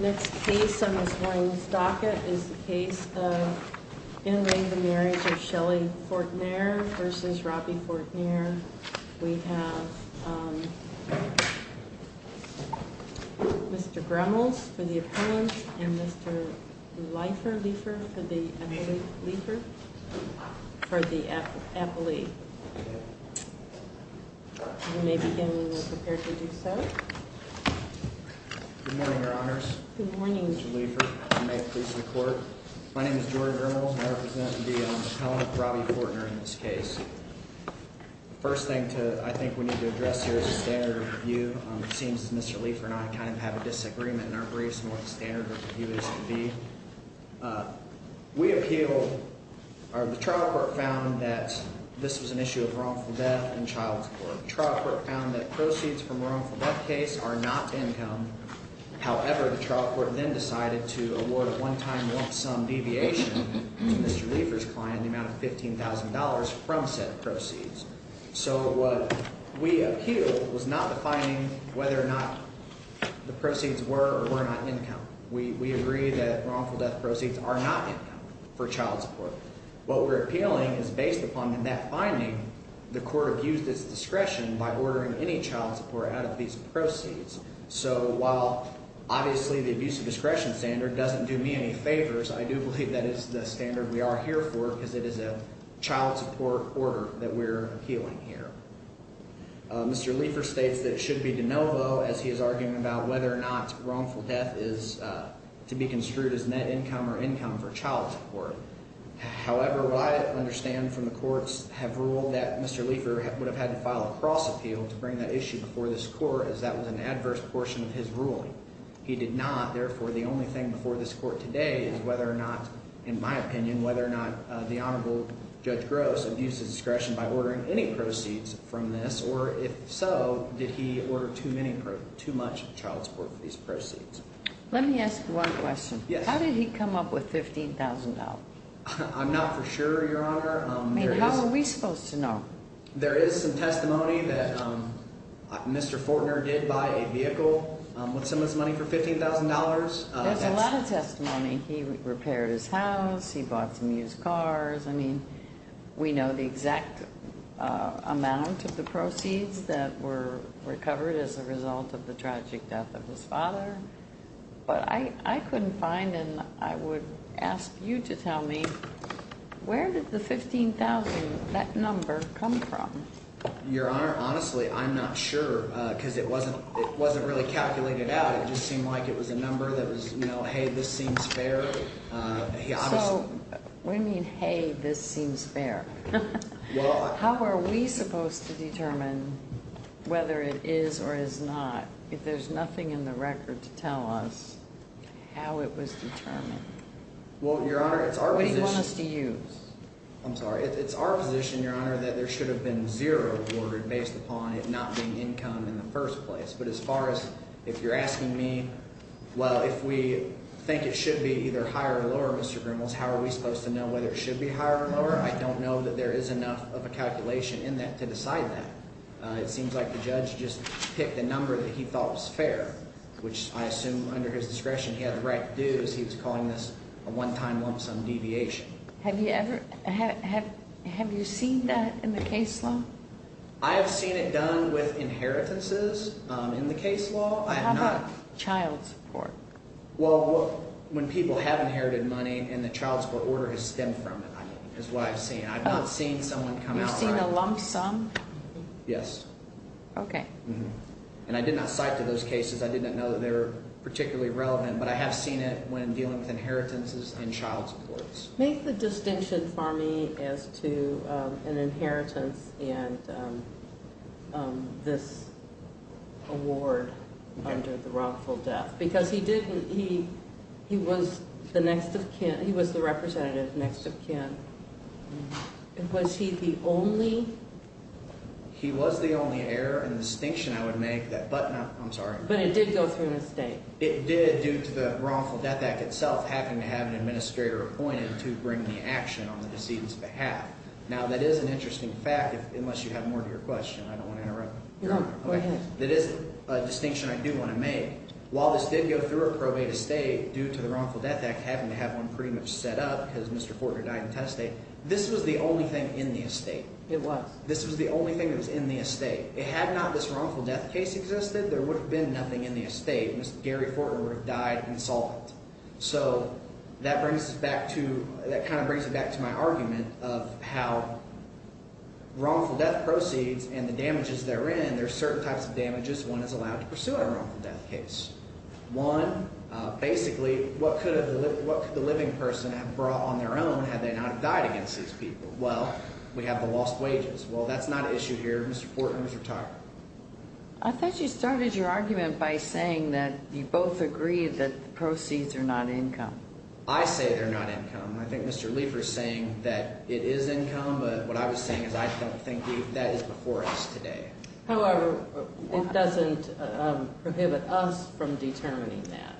Next case on this morning's docket is the case of Interring the Marriage of Shelley Fortner vs. Robbie Fortner. We have Mr. Gremlins for the Appellant and Mr. Leifer for the Appellee. You may begin when you are prepared to do so. Good morning, Your Honors. Good morning, Mr. Leifer. My name is Jordan Gremlins and I represent the Appellant, Robbie Fortner, in this case. The first thing I think we need to address here is the standard of review. It seems that Mr. Leifer and I kind of have a disagreement in our briefs on what the standard of review is to be. We appeal, or the trial court found that this was an issue of wrongful death in child support. The trial court found that proceeds from a wrongful death case are not income. However, the trial court then decided to award a one-time lump sum deviation to Mr. Leifer's client in the amount of $15,000 from said proceeds. So what we appeal was not the finding whether or not the proceeds were or were not income. We agree that wrongful death proceeds are not income for child support. What we're appealing is based upon that finding. The court abused its discretion by ordering any child support out of these proceeds. So while obviously the abuse of discretion standard doesn't do me any favors, I do believe that is the standard we are here for because it is a child support order that we're appealing here. Mr. Leifer states that it should be de novo as he is arguing about whether or not wrongful death is to be construed as net income or income for child support. However, what I understand from the courts have ruled that Mr. Leifer would have had to file a cross appeal to bring that issue before this court as that was an adverse portion of his ruling. He did not. Therefore, the only thing before this court today is whether or not, in my opinion, whether or not the Honorable Judge Gross abused his discretion by ordering any proceeds from this, or if so, did he order too much child support for these proceeds. Let me ask one question. Yes. How did he come up with $15,000? I'm not for sure, Your Honor. I mean, how are we supposed to know? There is some testimony that Mr. Fortner did buy a vehicle with some of this money for $15,000. There's a lot of testimony. He repaired his house. He bought some used cars. I mean, we know the exact amount of the proceeds that were recovered as a result of the tragic death of his father. But I couldn't find and I would ask you to tell me where did the $15,000, that number, come from? Your Honor, honestly, I'm not sure because it wasn't really calculated out. It just seemed like it was a number that was, hey, this seems fair. So what do you mean, hey, this seems fair? How are we supposed to determine whether it is or is not if there's nothing in the record to tell us how it was determined? Well, Your Honor, it's our position. What do you want us to use? I'm sorry. It's our position, Your Honor, that there should have been zero awarded based upon it not being income in the first place. But as far as if you're asking me, well, if we think it should be either higher or lower, Mr. Grimels, how are we supposed to know whether it should be higher or lower? I don't know that there is enough of a calculation in that to decide that. It seems like the judge just picked a number that he thought was fair, which I assume under his discretion he had the right to do as he was calling this a one-time lump sum deviation. Have you ever – have you seen that in the case law? I have seen it done with inheritances in the case law. How about child support? Well, when people have inherited money and the child support order has stemmed from it is what I've seen. I've not seen someone come out right. You've seen a lump sum? Yes. Okay. And I did not cite to those cases. I did not know that they were particularly relevant. But I have seen it when dealing with inheritances and child supports. Make the distinction for me as to an inheritance and this award under the wrongful death because he didn't – he was the next of kin – he was the representative next of kin. Was he the only? He was the only heir. And the distinction I would make – I'm sorry. But it did go through an estate. It did due to the wrongful death act itself having to have an administrator appointed to bring the action on the decedent's behalf. Now, that is an interesting fact unless you have more to your question. I don't want to interrupt. No, go ahead. That is a distinction I do want to make. While this did go through a probate estate due to the wrongful death act having to have one pretty much set up because Mr. Fortner died in Tennessee, this was the only thing in the estate. This was the only thing that was in the estate. Had not this wrongful death case existed, there would have been nothing in the estate. Mr. Gary Fortner would have died insolvent. So that brings us back to – that kind of brings it back to my argument of how wrongful death proceeds and the damages therein, there are certain types of damages one is allowed to pursue in a wrongful death case. One, basically, what could the living person have brought on their own had they not have died against these people? Well, we have the lost wages. Well, that's not an issue here. Mr. Fortner is retired. I thought you started your argument by saying that you both agreed that the proceeds are not income. I say they're not income. I think Mr. Leifer is saying that it is income, but what I was saying is I don't think that is before us today. However, it doesn't prohibit us from determining that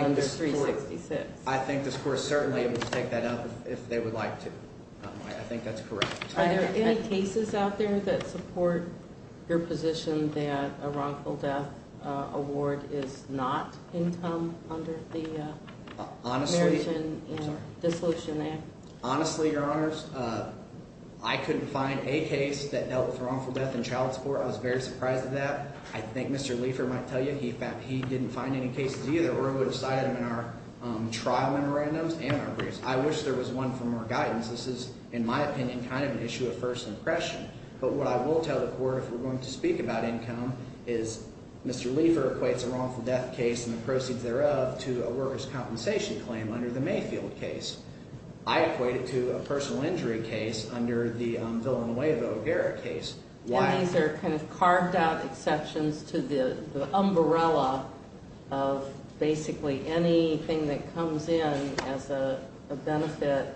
under 366. I think this court is certainly able to take that up if they would like to. I think that's correct. Are there any cases out there that support your position that a wrongful death award is not income under the Marriage and Dissolution Act? Honestly, Your Honors, I couldn't find a case that dealt with wrongful death in child support. I was very surprised at that. I think Mr. Leifer might tell you he didn't find any cases either or would have cited them in our trial memorandums and our briefs. I wish there was one for more guidance. This is, in my opinion, kind of an issue of first impression. But what I will tell the court if we're going to speak about income is Mr. Leifer equates a wrongful death case and the proceeds thereof to a workers' compensation claim under the Mayfield case. I equate it to a personal injury case under the Villanueva-O'Gara case. And these are kind of carved out exceptions to the umbrella of basically anything that comes in as a benefit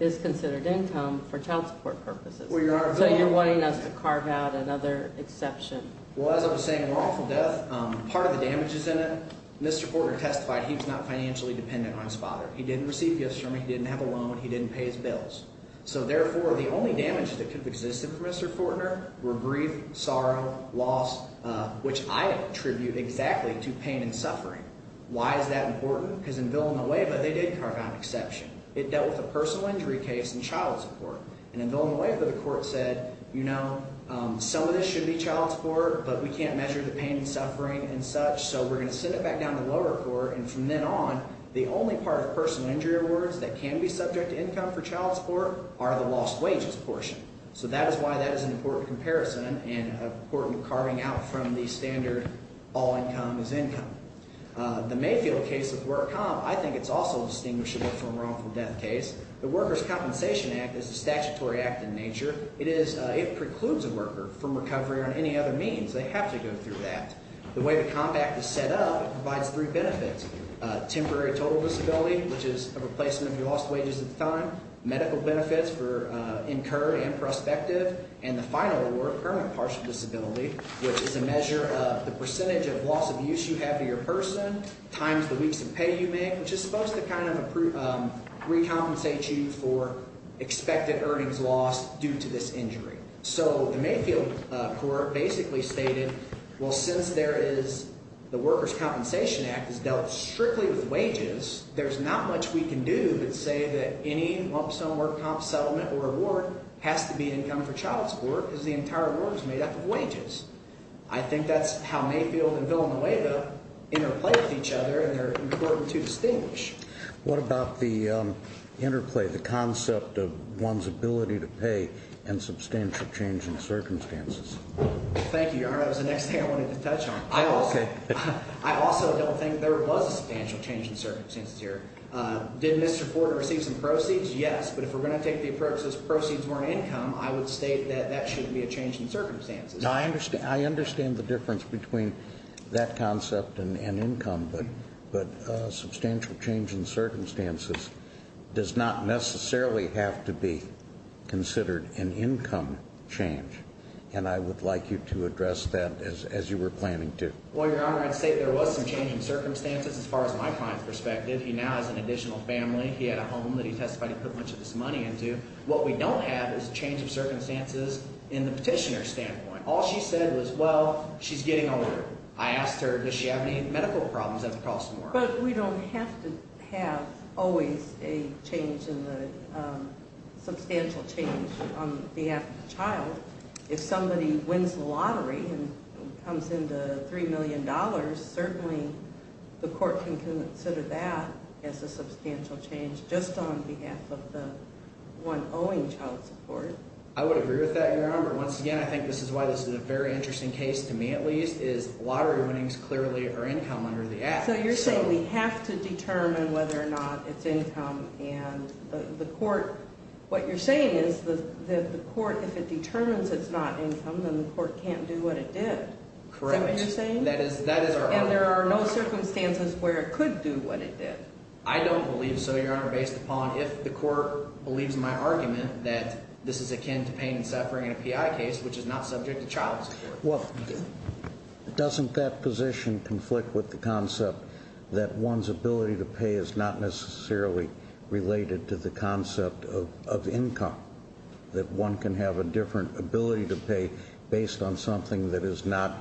is considered income for child support purposes. So you're wanting us to carve out another exception. Well, as I was saying, wrongful death, part of the damage is in it. Mr. Fortner testified he was not financially dependent on his father. He didn't receive gifts from him. He didn't have a loan. He didn't pay his bills. So, therefore, the only damage that could have existed for Mr. Fortner were grief, sorrow, loss, which I attribute exactly to pain and suffering. Why is that important? Because in Villanueva, they did carve out an exception. It dealt with a personal injury case and child support. And in Villanueva, the court said, you know, some of this should be child support, but we can't measure the pain and suffering and such, so we're going to send it back down to lower court. And from then on, the only part of personal injury awards that can be subject to income for child support are the lost wages portion. So that is why that is an important comparison and an important carving out from the standard all income is income. The Mayfield case of work comp, I think it's also distinguishable from wrongful death case. The Workers' Compensation Act is a statutory act in nature. It precludes a worker from recovery on any other means. They have to go through that. The way the compact is set up, it provides three benefits. Temporary total disability, which is a replacement of your lost wages at the time, medical benefits for incurred and prospective, and the final award, permanent partial disability, which is a measure of the percentage of loss of use you have to your person times the weeks of pay you make, which is supposed to kind of recompensate you for expected earnings lost due to this injury. So the Mayfield court basically stated, well, since there is the Workers' Compensation Act is dealt strictly with wages, there's not much we can do but say that any lump sum work comp settlement or award has to be income for child support because the entire award is made up of wages. I think that's how Mayfield and Villanueva interplay with each other and they're important to distinguish. What about the interplay, the concept of one's ability to pay and substantial change in circumstances? Thank you, Your Honor. That was the next thing I wanted to touch on. Okay. I also don't think there was a substantial change in circumstances here. Did Mr. Ford receive some proceeds? Yes. But if we're going to take the approach that proceeds weren't income, I would state that that shouldn't be a change in circumstances. Now, I understand the difference between that concept and income, but substantial change in circumstances does not necessarily have to be considered an income change, and I would like you to address that as you were planning to. Well, Your Honor, I'd say there was some change in circumstances as far as my client's perspective. He now has an additional family. He had a home that he testified he put much of his money into. What we don't have is a change of circumstances in the petitioner's standpoint. All she said was, well, she's getting older. I asked her, does she have any medical problems that would cost more? But we don't have to have always a change in the substantial change on behalf of the child. If somebody wins the lottery and comes into $3 million, certainly the court can consider that as a substantial change just on behalf of the one owing child support. I would agree with that, Your Honor. But once again, I think this is why this is a very interesting case, to me at least, is lottery winnings clearly are income under the Act. So you're saying we have to determine whether or not it's income, and the court, what you're saying is that the court, if it determines it's not income, then the court can't do what it did. Correct. Is that what you're saying? That is our argument. And there are no circumstances where it could do what it did. I don't believe so, Your Honor, based upon if the court believes my argument that this is akin to pain and suffering in a PI case, which is not subject to child support. Well, doesn't that position conflict with the concept that one's ability to pay is not necessarily related to the concept of income, that one can have a different ability to pay based on something that is not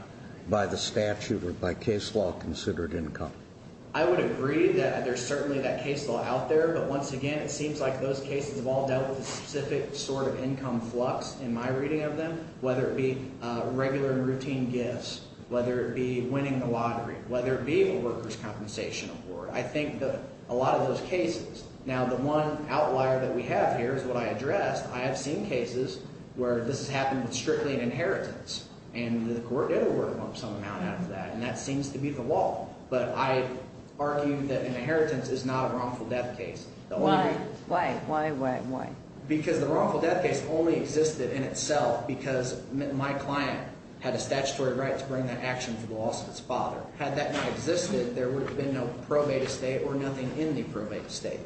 by the statute or by case law considered income? I would agree that there's certainly that case law out there. But once again, it seems like those cases have all dealt with a specific sort of income flux in my reading of them, whether it be regular and routine gifts, whether it be winning the lottery, whether it be a workers' compensation award. I think that a lot of those cases – now, the one outlier that we have here is what I addressed. I have seen cases where this has happened with strictly an inheritance, and the court did award some amount out of that, and that seems to be the law. But I argue that an inheritance is not a wrongful death case. Why? Why, why, why, why? Because the wrongful death case only existed in itself because my client had a statutory right to bring that action to the lawsuit's father. Had that not existed, there would have been no probate estate or nothing in the probate estate.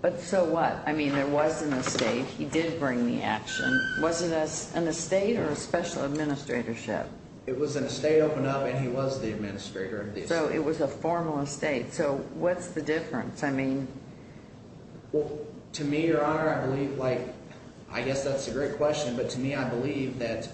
But so what? I mean there was an estate. He did bring the action. Was it an estate or a special administratorship? It was an estate opened up, and he was the administrator. So it was a formal estate. So what's the difference? I mean – Well, to me, Your Honor, I believe – like I guess that's a great question, but to me I believe that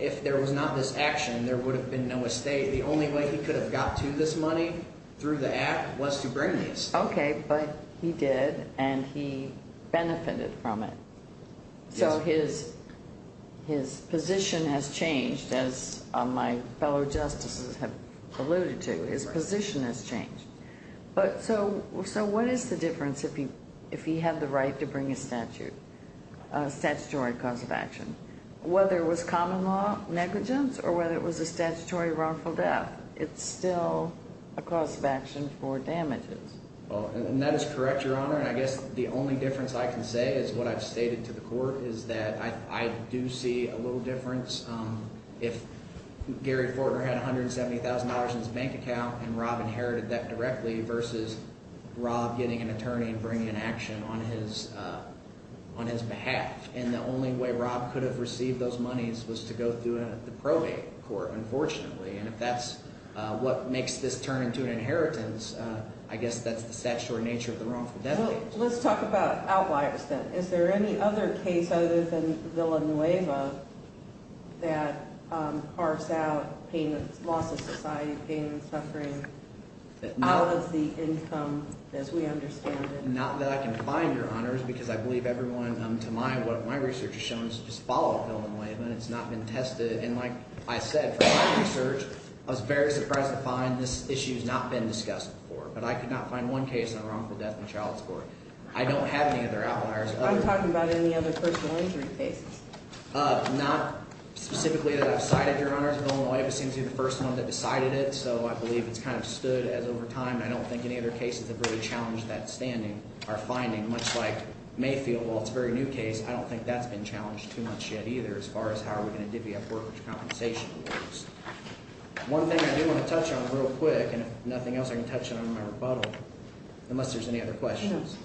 if there was not this action, there would have been no estate. The only way he could have got to this money through the act was to bring this. OK, but he did, and he benefited from it. Yes. So his position has changed, as my fellow justices have alluded to. His position has changed. So what is the difference if he had the right to bring a statute, a statutory cause of action? Whether it was common law negligence or whether it was a statutory wrongful death, it's still a cause of action for damages. And that is correct, Your Honor, and I guess the only difference I can say is what I've stated to the court is that I do see a little difference if Gary Fortner had $170,000 in his bank account and Rob inherited that directly versus Rob getting an attorney and bringing an action on his behalf. And the only way Rob could have received those monies was to go through the probate court, unfortunately. And if that's what makes this turn into an inheritance, I guess that's the statutory nature of the wrongful death case. Well, let's talk about outliers then. Is there any other case other than Villanueva that carves out loss of society, pain and suffering out of the income as we understand it? Not that I can find, Your Honors, because I believe everyone to my – what my research has shown is to just follow Villanueva, and it's not been tested. And like I said, from my research, I was very surprised to find this issue has not been discussed before. But I could not find one case on wrongful death in child support. I don't have any other outliers. I'm talking about any other personal injury cases. Not specifically that I've cited, Your Honors. Villanueva seems to be the first one that decided it, so I believe it's kind of stood as over time. I don't think any other cases have really challenged that standing or finding, much like Mayfield. While it's a very new case, I don't think that's been challenged too much yet either as far as how are we going to divvy up workers' compensation. One thing I do want to touch on real quick, and if nothing else I can touch on in my rebuttal, unless there's any other questions.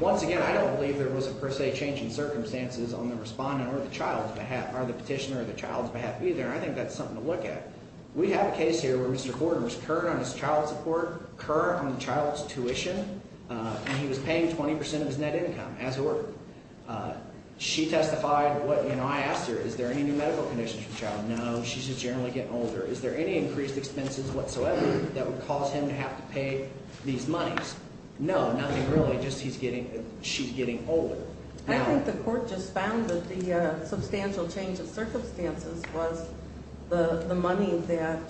Once again, I don't believe there was a per se change in circumstances on the respondent or the child's behalf or the petitioner or the child's behalf either. I think that's something to look at. We have a case here where Mr. Gordon was current on his child support, current on the child's tuition, and he was paying 20 percent of his net income, as it were. She testified. I asked her, is there any new medical conditions for the child? No, she's just generally getting older. Is there any increased expenses whatsoever that would cause him to have to pay these monies? No, nothing really, just she's getting older. I think the court just found that the substantial change of circumstances was the money that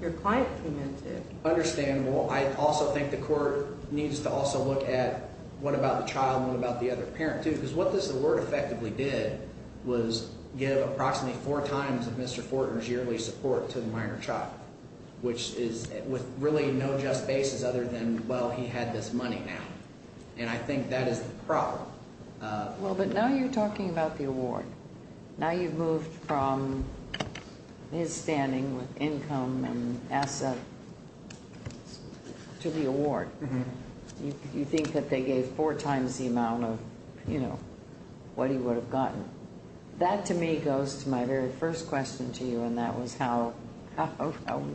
your client came into. Understandable. I also think the court needs to also look at what about the child and what about the other parent too because what this award effectively did was give approximately four times of Mr. Fortner's yearly support to the minor child, which is with really no just basis other than, well, he had this money now. And I think that is the problem. Well, but now you're talking about the award. Now you've moved from his standing with income and assets to the award. You think that they gave four times the amount of what he would have gotten. That, to me, goes to my very first question to you, and that was how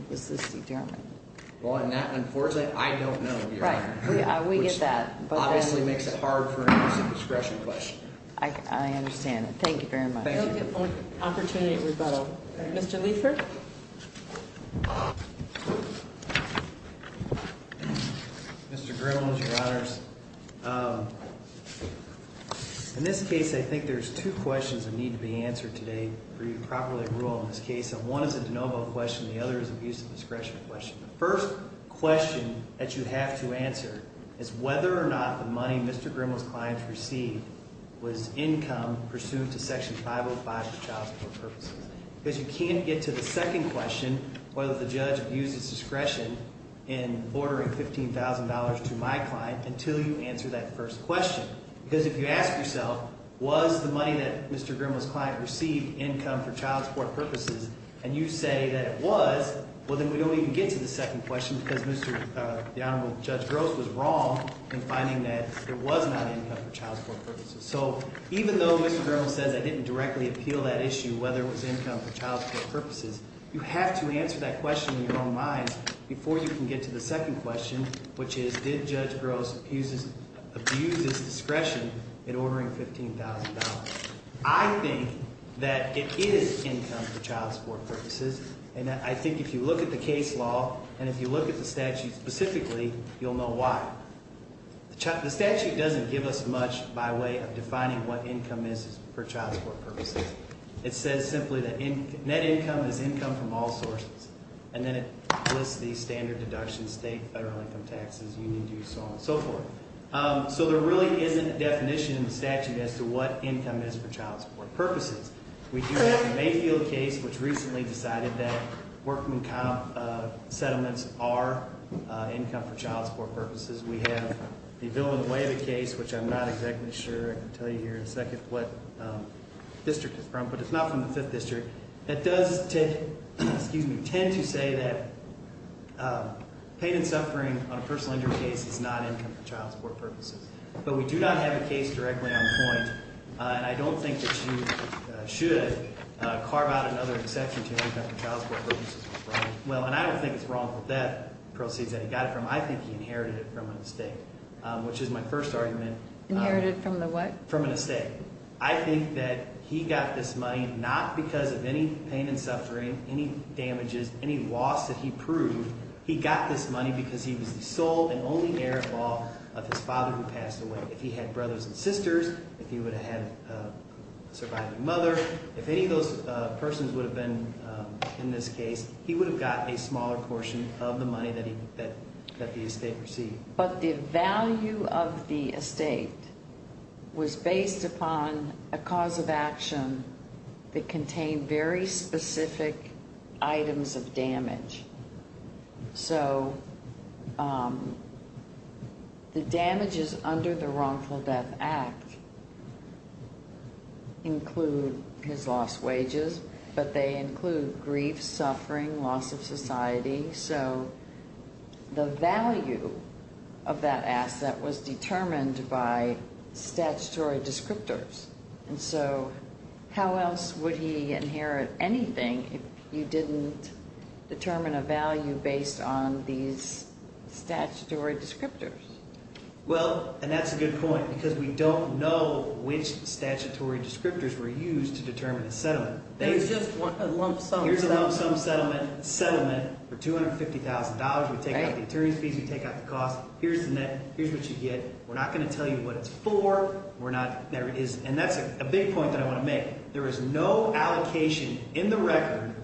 was this determined? Well, unfortunately, I don't know, Your Honor. We get that. Obviously makes it hard for an abuse of discretion question. I understand. Thank you very much. Thank you. Opportunity at rebuttal. Mr. Liefert. Mr. Grimald, Your Honors. In this case, I think there's two questions that need to be answered today for you to properly rule on this case. And one is a de novo question. The other is an abuse of discretion question. The first question that you have to answer is whether or not the money Mr. Grimald's client received was income pursued to Section 505 for child support purposes. Because you can't get to the second question, whether the judge abused his discretion in ordering $15,000 to my client, until you answer that first question. Because if you ask yourself, was the money that Mr. Grimald's client received income for child support purposes, and you say that it was, well then we don't even get to the second question because Mr., the Honorable Judge Gross was wrong in finding that it was not income for child support purposes. So even though Mr. Grimald says I didn't directly appeal that issue, whether it was income for child support purposes, you have to answer that question in your own minds before you can get to the second question, which is, did Judge Gross abuse his discretion in ordering $15,000? I think that it is income for child support purposes. And I think if you look at the case law, and if you look at the statute specifically, you'll know why. The statute doesn't give us much by way of defining what income is for child support purposes. It says simply that net income is income from all sources. And then it lists these standard deductions, state federal income taxes, union dues, so on and so forth. So there really isn't a definition in the statute as to what income is for child support purposes. We do have the Mayfield case, which recently decided that workman count settlements are income for child support purposes. We have the Avila-Leyva case, which I'm not exactly sure I can tell you here in a second what district it's from, but it's not from the Fifth District. It does tend to say that pain and suffering on a personal injury case is not income for child support purposes. But we do not have a case directly on point, and I don't think that you should carve out another exception to income for child support purposes. Well, and I don't think it's wrong that that proceeds that he got it from. I think he inherited it from a mistake, which is my first argument. Inherited from the what? From a mistake. I think that he got this money not because of any pain and suffering, any damages, any loss that he proved. He got this money because he was the sole and only heir-in-law of his father who passed away. If he had brothers and sisters, if he would have had a surviving mother, if any of those persons would have been in this case, he would have got a smaller portion of the money that the estate received. But the value of the estate was based upon a cause of action that contained very specific items of damage. So the damages under the Wrongful Death Act include his lost wages, but they include grief, suffering, loss of society. So the value of that asset was determined by statutory descriptors. And so how else would he inherit anything if you didn't determine a value based on these statutory descriptors? Well, and that's a good point because we don't know which statutory descriptors were used to determine a settlement. Here's a lump sum settlement for $250,000. We take out the attorney's fees. We take out the cost. Here's the net. Here's what you get. We're not going to tell you what it's for. And that's a big point that I want to make. There is no allocation in the record,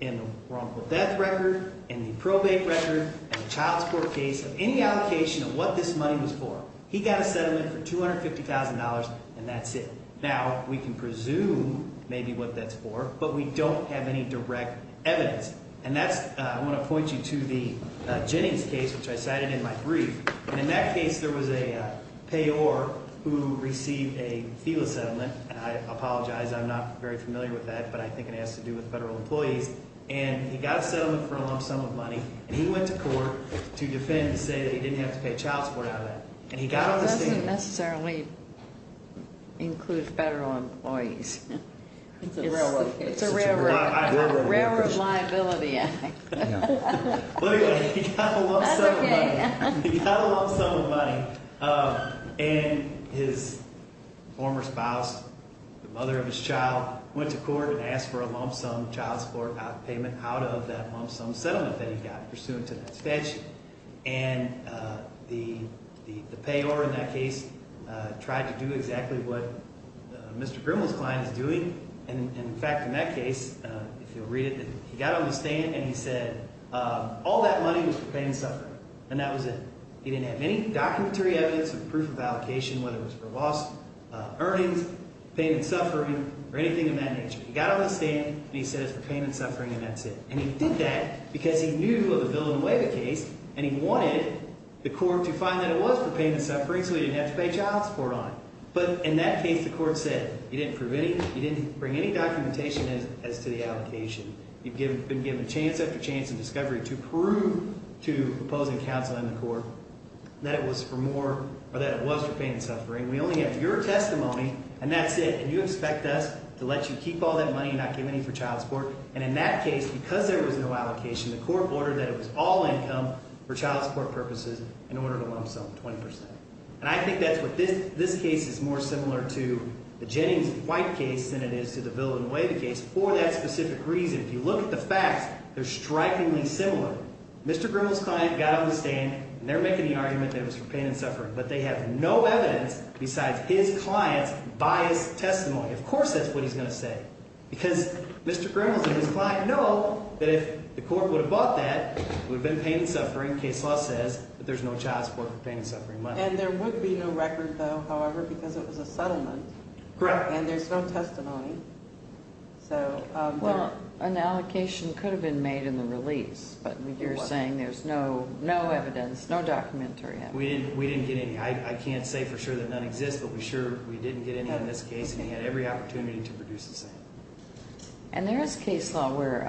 in the wrongful death record, in the probate record, in the child support case, of any allocation of what this money was for. He got a settlement for $250,000, and that's it. Now, we can presume maybe what that's for, but we don't have any direct evidence. And that's, I want to point you to the Jennings case, which I cited in my brief. And in that case, there was a payor who received a FELA settlement. And I apologize, I'm not very familiar with that, but I think it has to do with federal employees. And he got a settlement for a lump sum of money, and he went to court to defend and say that he didn't have to pay child support out of that. It doesn't necessarily include federal employees. It's a railroad liability act. He got a lump sum of money, and his former spouse, the mother of his child, went to court and asked for a lump sum child support payment out of that lump sum settlement that he got, pursuant to that statute. And the payor in that case tried to do exactly what Mr. Grimmel's client is doing. And, in fact, in that case, if you'll read it, he got on the stand, and he said all that money was for pain and suffering. And that was it. He didn't have any documentary evidence or proof of allocation, whether it was for lost earnings, pain and suffering, or anything of that nature. He got on the stand, and he said it was for pain and suffering, and that's it. And he did that because he knew of a Villanueva case, and he wanted the court to find that it was for pain and suffering so he didn't have to pay child support on it. But in that case, the court said you didn't bring any documentation as to the allocation. You've been given chance after chance and discovery to prove to opposing counsel in the court that it was for pain and suffering. We only have your testimony, and that's it. And you expect us to let you keep all that money and not give any for child support. And in that case, because there was no allocation, the court ordered that it was all income for child support purposes and ordered a lump sum of 20 percent. And I think that's what this case is more similar to, the Jennings-White case, than it is to the Villanueva case for that specific reason. If you look at the facts, they're strikingly similar. Mr. Grimmel's client got on the stand, and they're making the argument that it was for pain and suffering, but they have no evidence besides his client's biased testimony. Of course that's what he's going to say. Because Mr. Grimmel and his client know that if the court would have bought that, it would have been pain and suffering. Case law says that there's no child support for pain and suffering money. And there would be no record, though, however, because it was a settlement. Correct. And there's no testimony. Well, an allocation could have been made in the release, but you're saying there's no evidence, no documentary evidence. We didn't get any. I can't say for sure that none exist, but we sure we didn't get any in this case, and he had every opportunity to produce the same. And there is case law where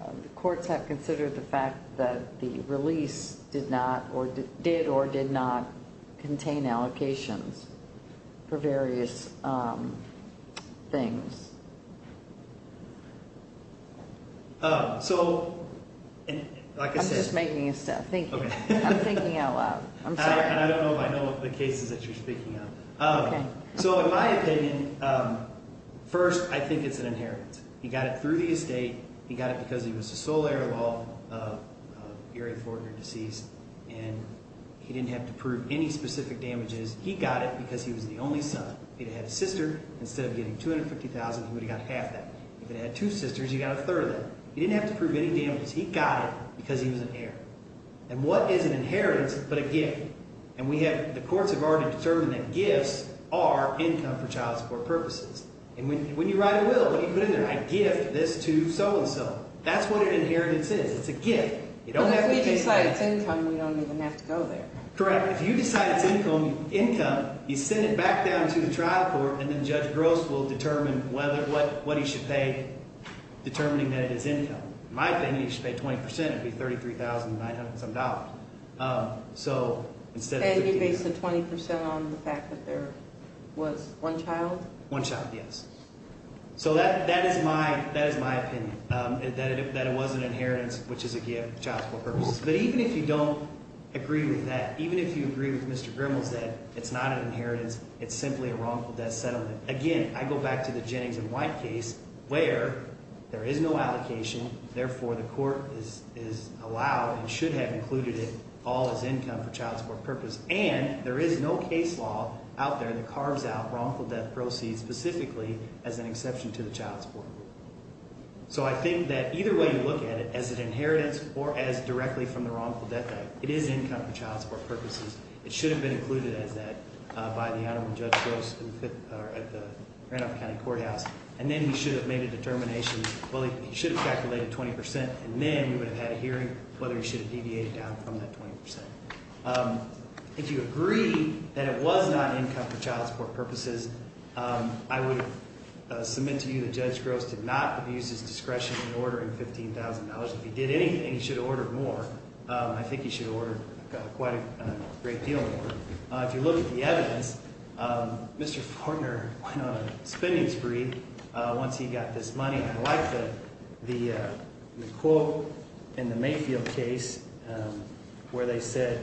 the courts have considered the fact that the release did or did not contain allocations for various things. So, like I said— I'm just making a step. Thank you. I'm thinking out loud. I'm sorry. And I don't know if I know what the case is that you're speaking of. Okay. So, in my opinion, first, I think it's an inheritance. He got it through the estate. He got it because he was the sole heir of all of Erie Fortner deceased, and he didn't have to prove any specific damages. He got it because he was the only son. If he'd have had a sister, instead of getting $250,000, he would have got half that. If he'd have had two sisters, he got a third of that. He didn't have to prove any damages. He got it because he was an heir. And what is an inheritance but a gift? And we have—the courts have already determined that gifts are income for child support purposes. And when you write a will, what do you put in there? I gift this to so-and-so. That's what an inheritance is. It's a gift. You don't have to take that. But if we decide it's income, we don't even have to go there. Correct. If you decide it's income, you send it back down to the trial court, and then Judge Gross will determine whether—what he should pay determining that it is income. In my opinion, he should pay 20 percent. It would be $33,900-something. So instead of— And you based the 20 percent on the fact that there was one child? One child, yes. So that is my opinion, that it was an inheritance, which is a gift for child support purposes. But even if you don't agree with that, even if you agree with Mr. Grimmel's that it's not an inheritance, it's simply a wrongful death settlement. Again, I go back to the Jennings and White case where there is no allocation. Therefore, the court is allowed and should have included it all as income for child support purposes. And there is no case law out there that carves out wrongful death proceeds specifically as an exception to the child support rule. So I think that either way you look at it, as an inheritance or as directly from the wrongful death debt, it is income for child support purposes. It should have been included as that by the Honorable Judge Gross at the Grand Rapid County Courthouse. And then he should have made a determination. Well, he should have calculated 20 percent, and then we would have had a hearing whether he should have deviated down from that 20 percent. If you agree that it was not income for child support purposes, I would submit to you that Judge Gross did not abuse his discretion in ordering $15,000. If he did anything, he should have ordered more. I think he should have ordered quite a great deal more. If you look at the evidence, Mr. Fortner went on a spending spree once he got this money. I like the quote in the Mayfield case where they said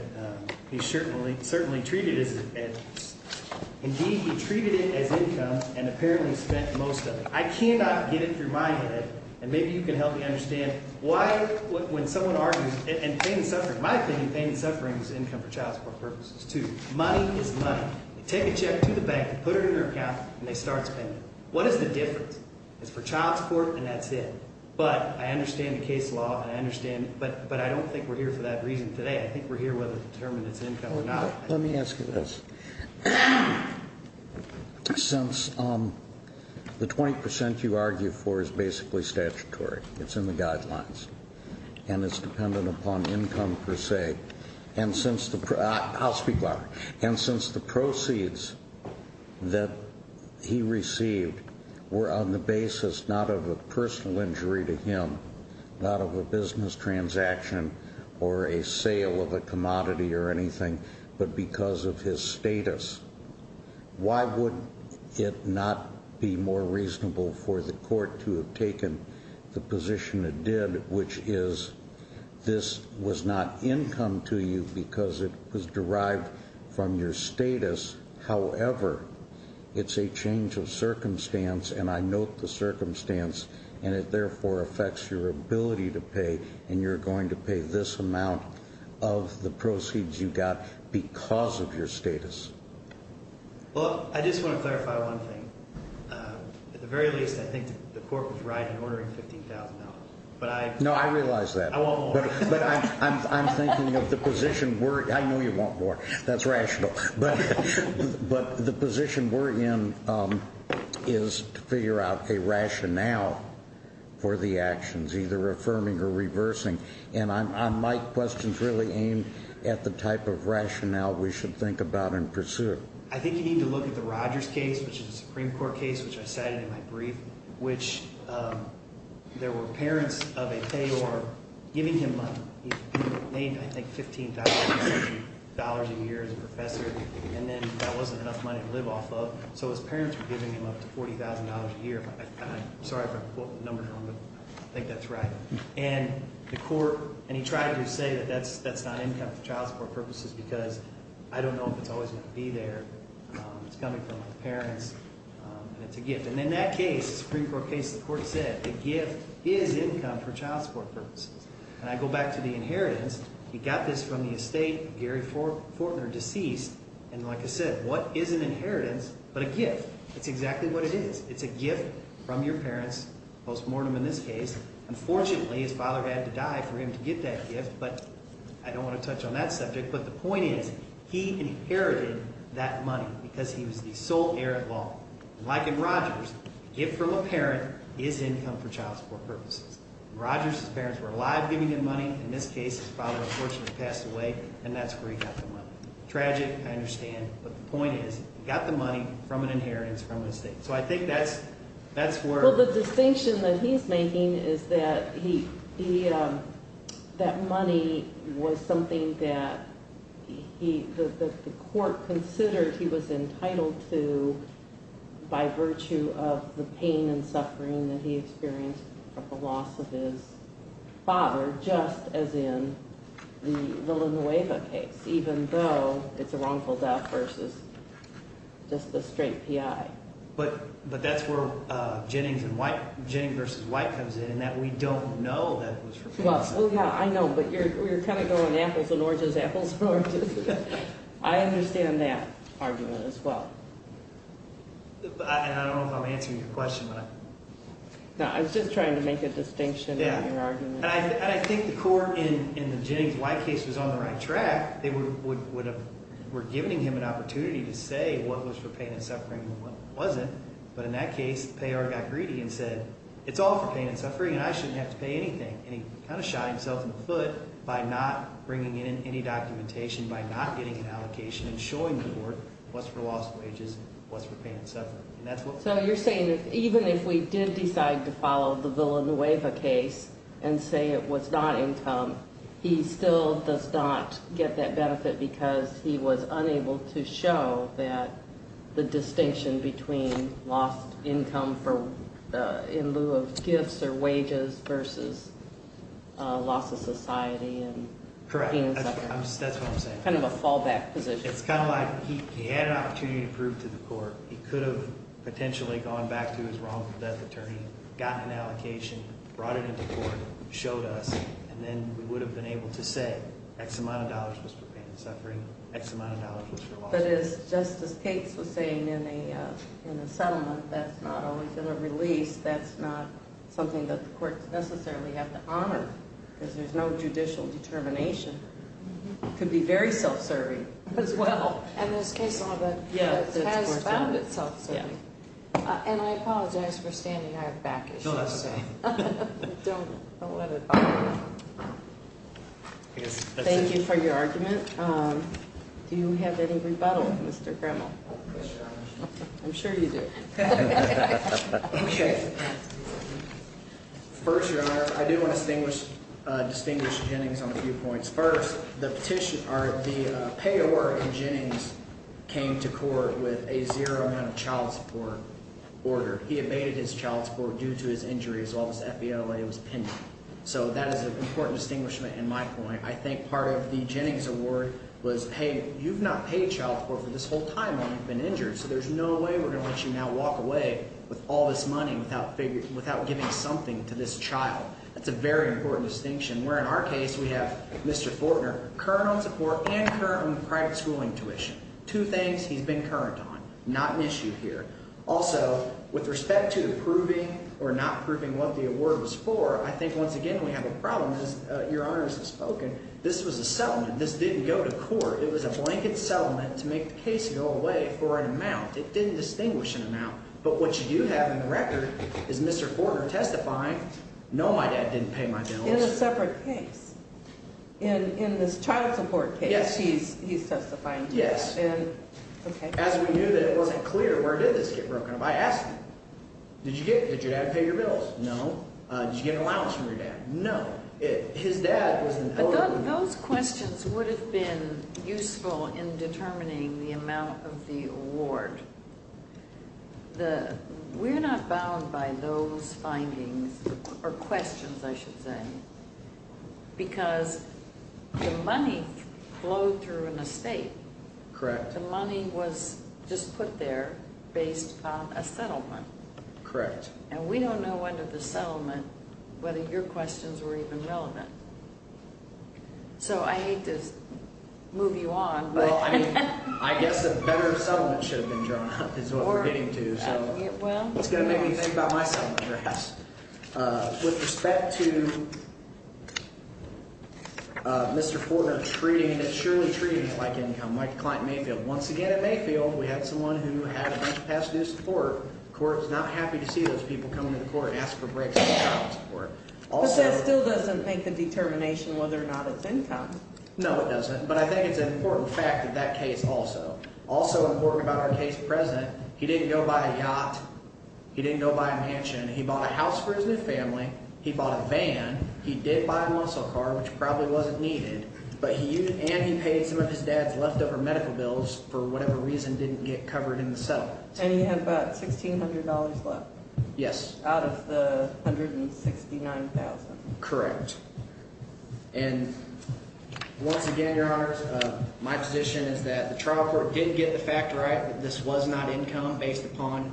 he certainly treated it as – indeed, he treated it as income and apparently spent most of it. I cannot get it through my head, and maybe you can help me understand why when someone argues – and pain and suffering. In my opinion, pain and suffering is income for child support purposes too. Money is money. They take a check to the bank, put it in their account, and they start spending. What is the difference? It's for child support and that's it. But I understand the case law and I understand – but I don't think we're here for that reason today. I think we're here whether to determine it's income or not. Let me ask you this. Since the 20% you argue for is basically statutory, it's in the guidelines, and it's dependent upon income per se. And since the – I'll speak louder. but because of his status, why would it not be more reasonable for the court to have taken the position it did, which is this was not income to you because it was derived from your status. However, it's a change of circumstance, and I note the circumstance, and it therefore affects your ability to pay, and you're going to pay this amount of the proceeds you got because of your status. Well, I just want to clarify one thing. At the very least, I think the court was right in ordering $15,000 out. But I – No, I realize that. I want more. But I'm thinking of the position where – I know you want more. That's rational. But the position we're in is to figure out a rationale for the actions, either affirming or reversing. And my question is really aimed at the type of rationale we should think about and pursue. I think you need to look at the Rogers case, which is a Supreme Court case, which I cited in my brief, which there were parents of a payor giving him money. He made, I think, $15,000 a year as a professor, and then that wasn't enough money to live off of. So his parents were giving him up to $40,000 a year. I'm sorry if I'm quoting numbers wrong, but I think that's right. And the court – and he tried to say that that's not income for child support purposes because I don't know if it's always going to be there. It's coming from my parents, and it's a gift. And in that case, the Supreme Court case, the court said the gift is income for child support purposes. And I go back to the inheritance. He got this from the estate of Gary Fortner, deceased. And like I said, what is an inheritance but a gift? That's exactly what it is. It's a gift from your parents, post-mortem in this case. Unfortunately, his father had to die for him to get that gift, but I don't want to touch on that subject. But the point is he inherited that money because he was the sole heir-at-law. And like in Rogers, a gift from a parent is income for child support purposes. Rogers' parents were alive giving him money. In this case, his father unfortunately passed away, and that's where he got the money. Tragic, I understand, but the point is he got the money from an inheritance from the estate. So I think that's where – The distinction that he's making is that he – that money was something that he – that the court considered he was entitled to by virtue of the pain and suffering that he experienced from the loss of his father, just as in the Villanueva case, even though it's a wrongful death versus just a straight PI. But that's where Jennings and – Jennings v. White comes in, in that we don't know that it was for pain and suffering. Well, yeah, I know, but you're kind of going apples and oranges, apples and oranges. I understand that argument as well. And I don't know if I'm answering your question, but I – No, I was just trying to make a distinction in your argument. And I think the court in the Jennings v. White case was on the right track. They would have – were giving him an opportunity to say what was for pain and suffering and what wasn't. But in that case, the payor got greedy and said it's all for pain and suffering and I shouldn't have to pay anything. And he kind of shot himself in the foot by not bringing in any documentation, by not getting an allocation and showing the court what's for loss of wages and what's for pain and suffering. So you're saying that even if we did decide to follow the Villanueva case and say it was not income, he still does not get that benefit because he was unable to show that the distinction between lost income in lieu of gifts or wages versus loss of society and pain and suffering. Correct. That's what I'm saying. Kind of a fallback position. It's kind of like he had an opportunity to prove to the court he could have potentially gone back to his wrongful death attorney, gotten an allocation, brought it into court, showed us, and then we would have been able to say X amount of dollars was for pain and suffering, X amount of dollars was for loss of – But as Justice Cates was saying in the settlement, that's not always in a release, that's not something that the courts necessarily have to honor because there's no judicial determination. It could be very self-serving as well. And this case has found it self-serving. And I apologize for standing out back, I should say. Don't let it bother you. Thank you for your argument. Do you have any rebuttal, Mr. Grimmel? I'm sure you do. Okay. First, Your Honor, I do want to distinguish Jennings on a few points. First, the petition – or the payor in Jennings came to court with a zero amount of child support order. He abated his child support due to his injuries while his FBLA was pending. So that is an important distinguishment in my point. I think part of the Jennings award was, hey, you've not paid child support for this whole time while you've been injured, so there's no way we're going to let you now walk away with all this money without giving something to this child. That's a very important distinction, where in our case we have Mr. Fortner current on support and current on private schooling tuition, two things he's been current on, not an issue here. Also, with respect to proving or not proving what the award was for, I think once again we have a problem. Your Honor has spoken. This was a settlement. This didn't go to court. It was a blanket settlement to make the case go away for an amount. It didn't distinguish an amount. But what you have in the record is Mr. Fortner testifying, no, my dad didn't pay my bills. In a separate case? In this child support case he's testifying to that? Yes. Okay. As we knew that it wasn't clear, where did this get broken up? I asked him. Did your dad pay your bills? No. Did you get an allowance from your dad? No. His dad was an elder. But those questions would have been useful in determining the amount of the award. We're not bound by those findings or questions, I should say, because the money flowed through an estate. Correct. But the money was just put there based on a settlement. Correct. And we don't know under the settlement whether your questions were even relevant. So I hate to move you on. Well, I mean, I guess a better settlement should have been drawn up is what we're getting to. So it's going to make me think about my settlement perhaps. With respect to Mr. Fortner treating it, surely treating it like income, like a client in Mayfield. Once again, in Mayfield we had someone who had to pass due support. The court was not happy to see those people come to the court and ask for breaks in child support. But that still doesn't make the determination whether or not it's income. No, it doesn't. But I think it's an important fact in that case also. Also important about our case present, he didn't go buy a yacht. He didn't go buy a mansion. He bought a house for his new family. He bought a van. He did buy a muscle car, which probably wasn't needed. And he paid some of his dad's leftover medical bills for whatever reason didn't get covered in the settlement. And he had about $1,600 left. Yes. Out of the $169,000. Correct. And once again, Your Honors, my position is that the trial court didn't get the fact right that this was not income based upon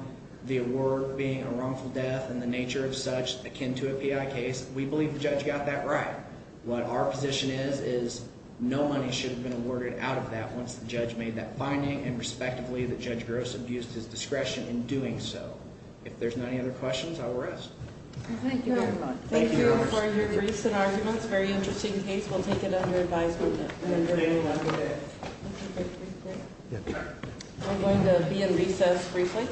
the award being a wrongful death and the nature of such akin to a PI case. We believe the judge got that right. What our position is is no money should have been awarded out of that once the judge made that finding and respectively that Judge Gross abused his discretion in doing so. If there's not any other questions, I will rest. Thank you very much. Thank you for your briefs and arguments. Very interesting case. We'll take it under advisement. I'm going to be in recess briefly.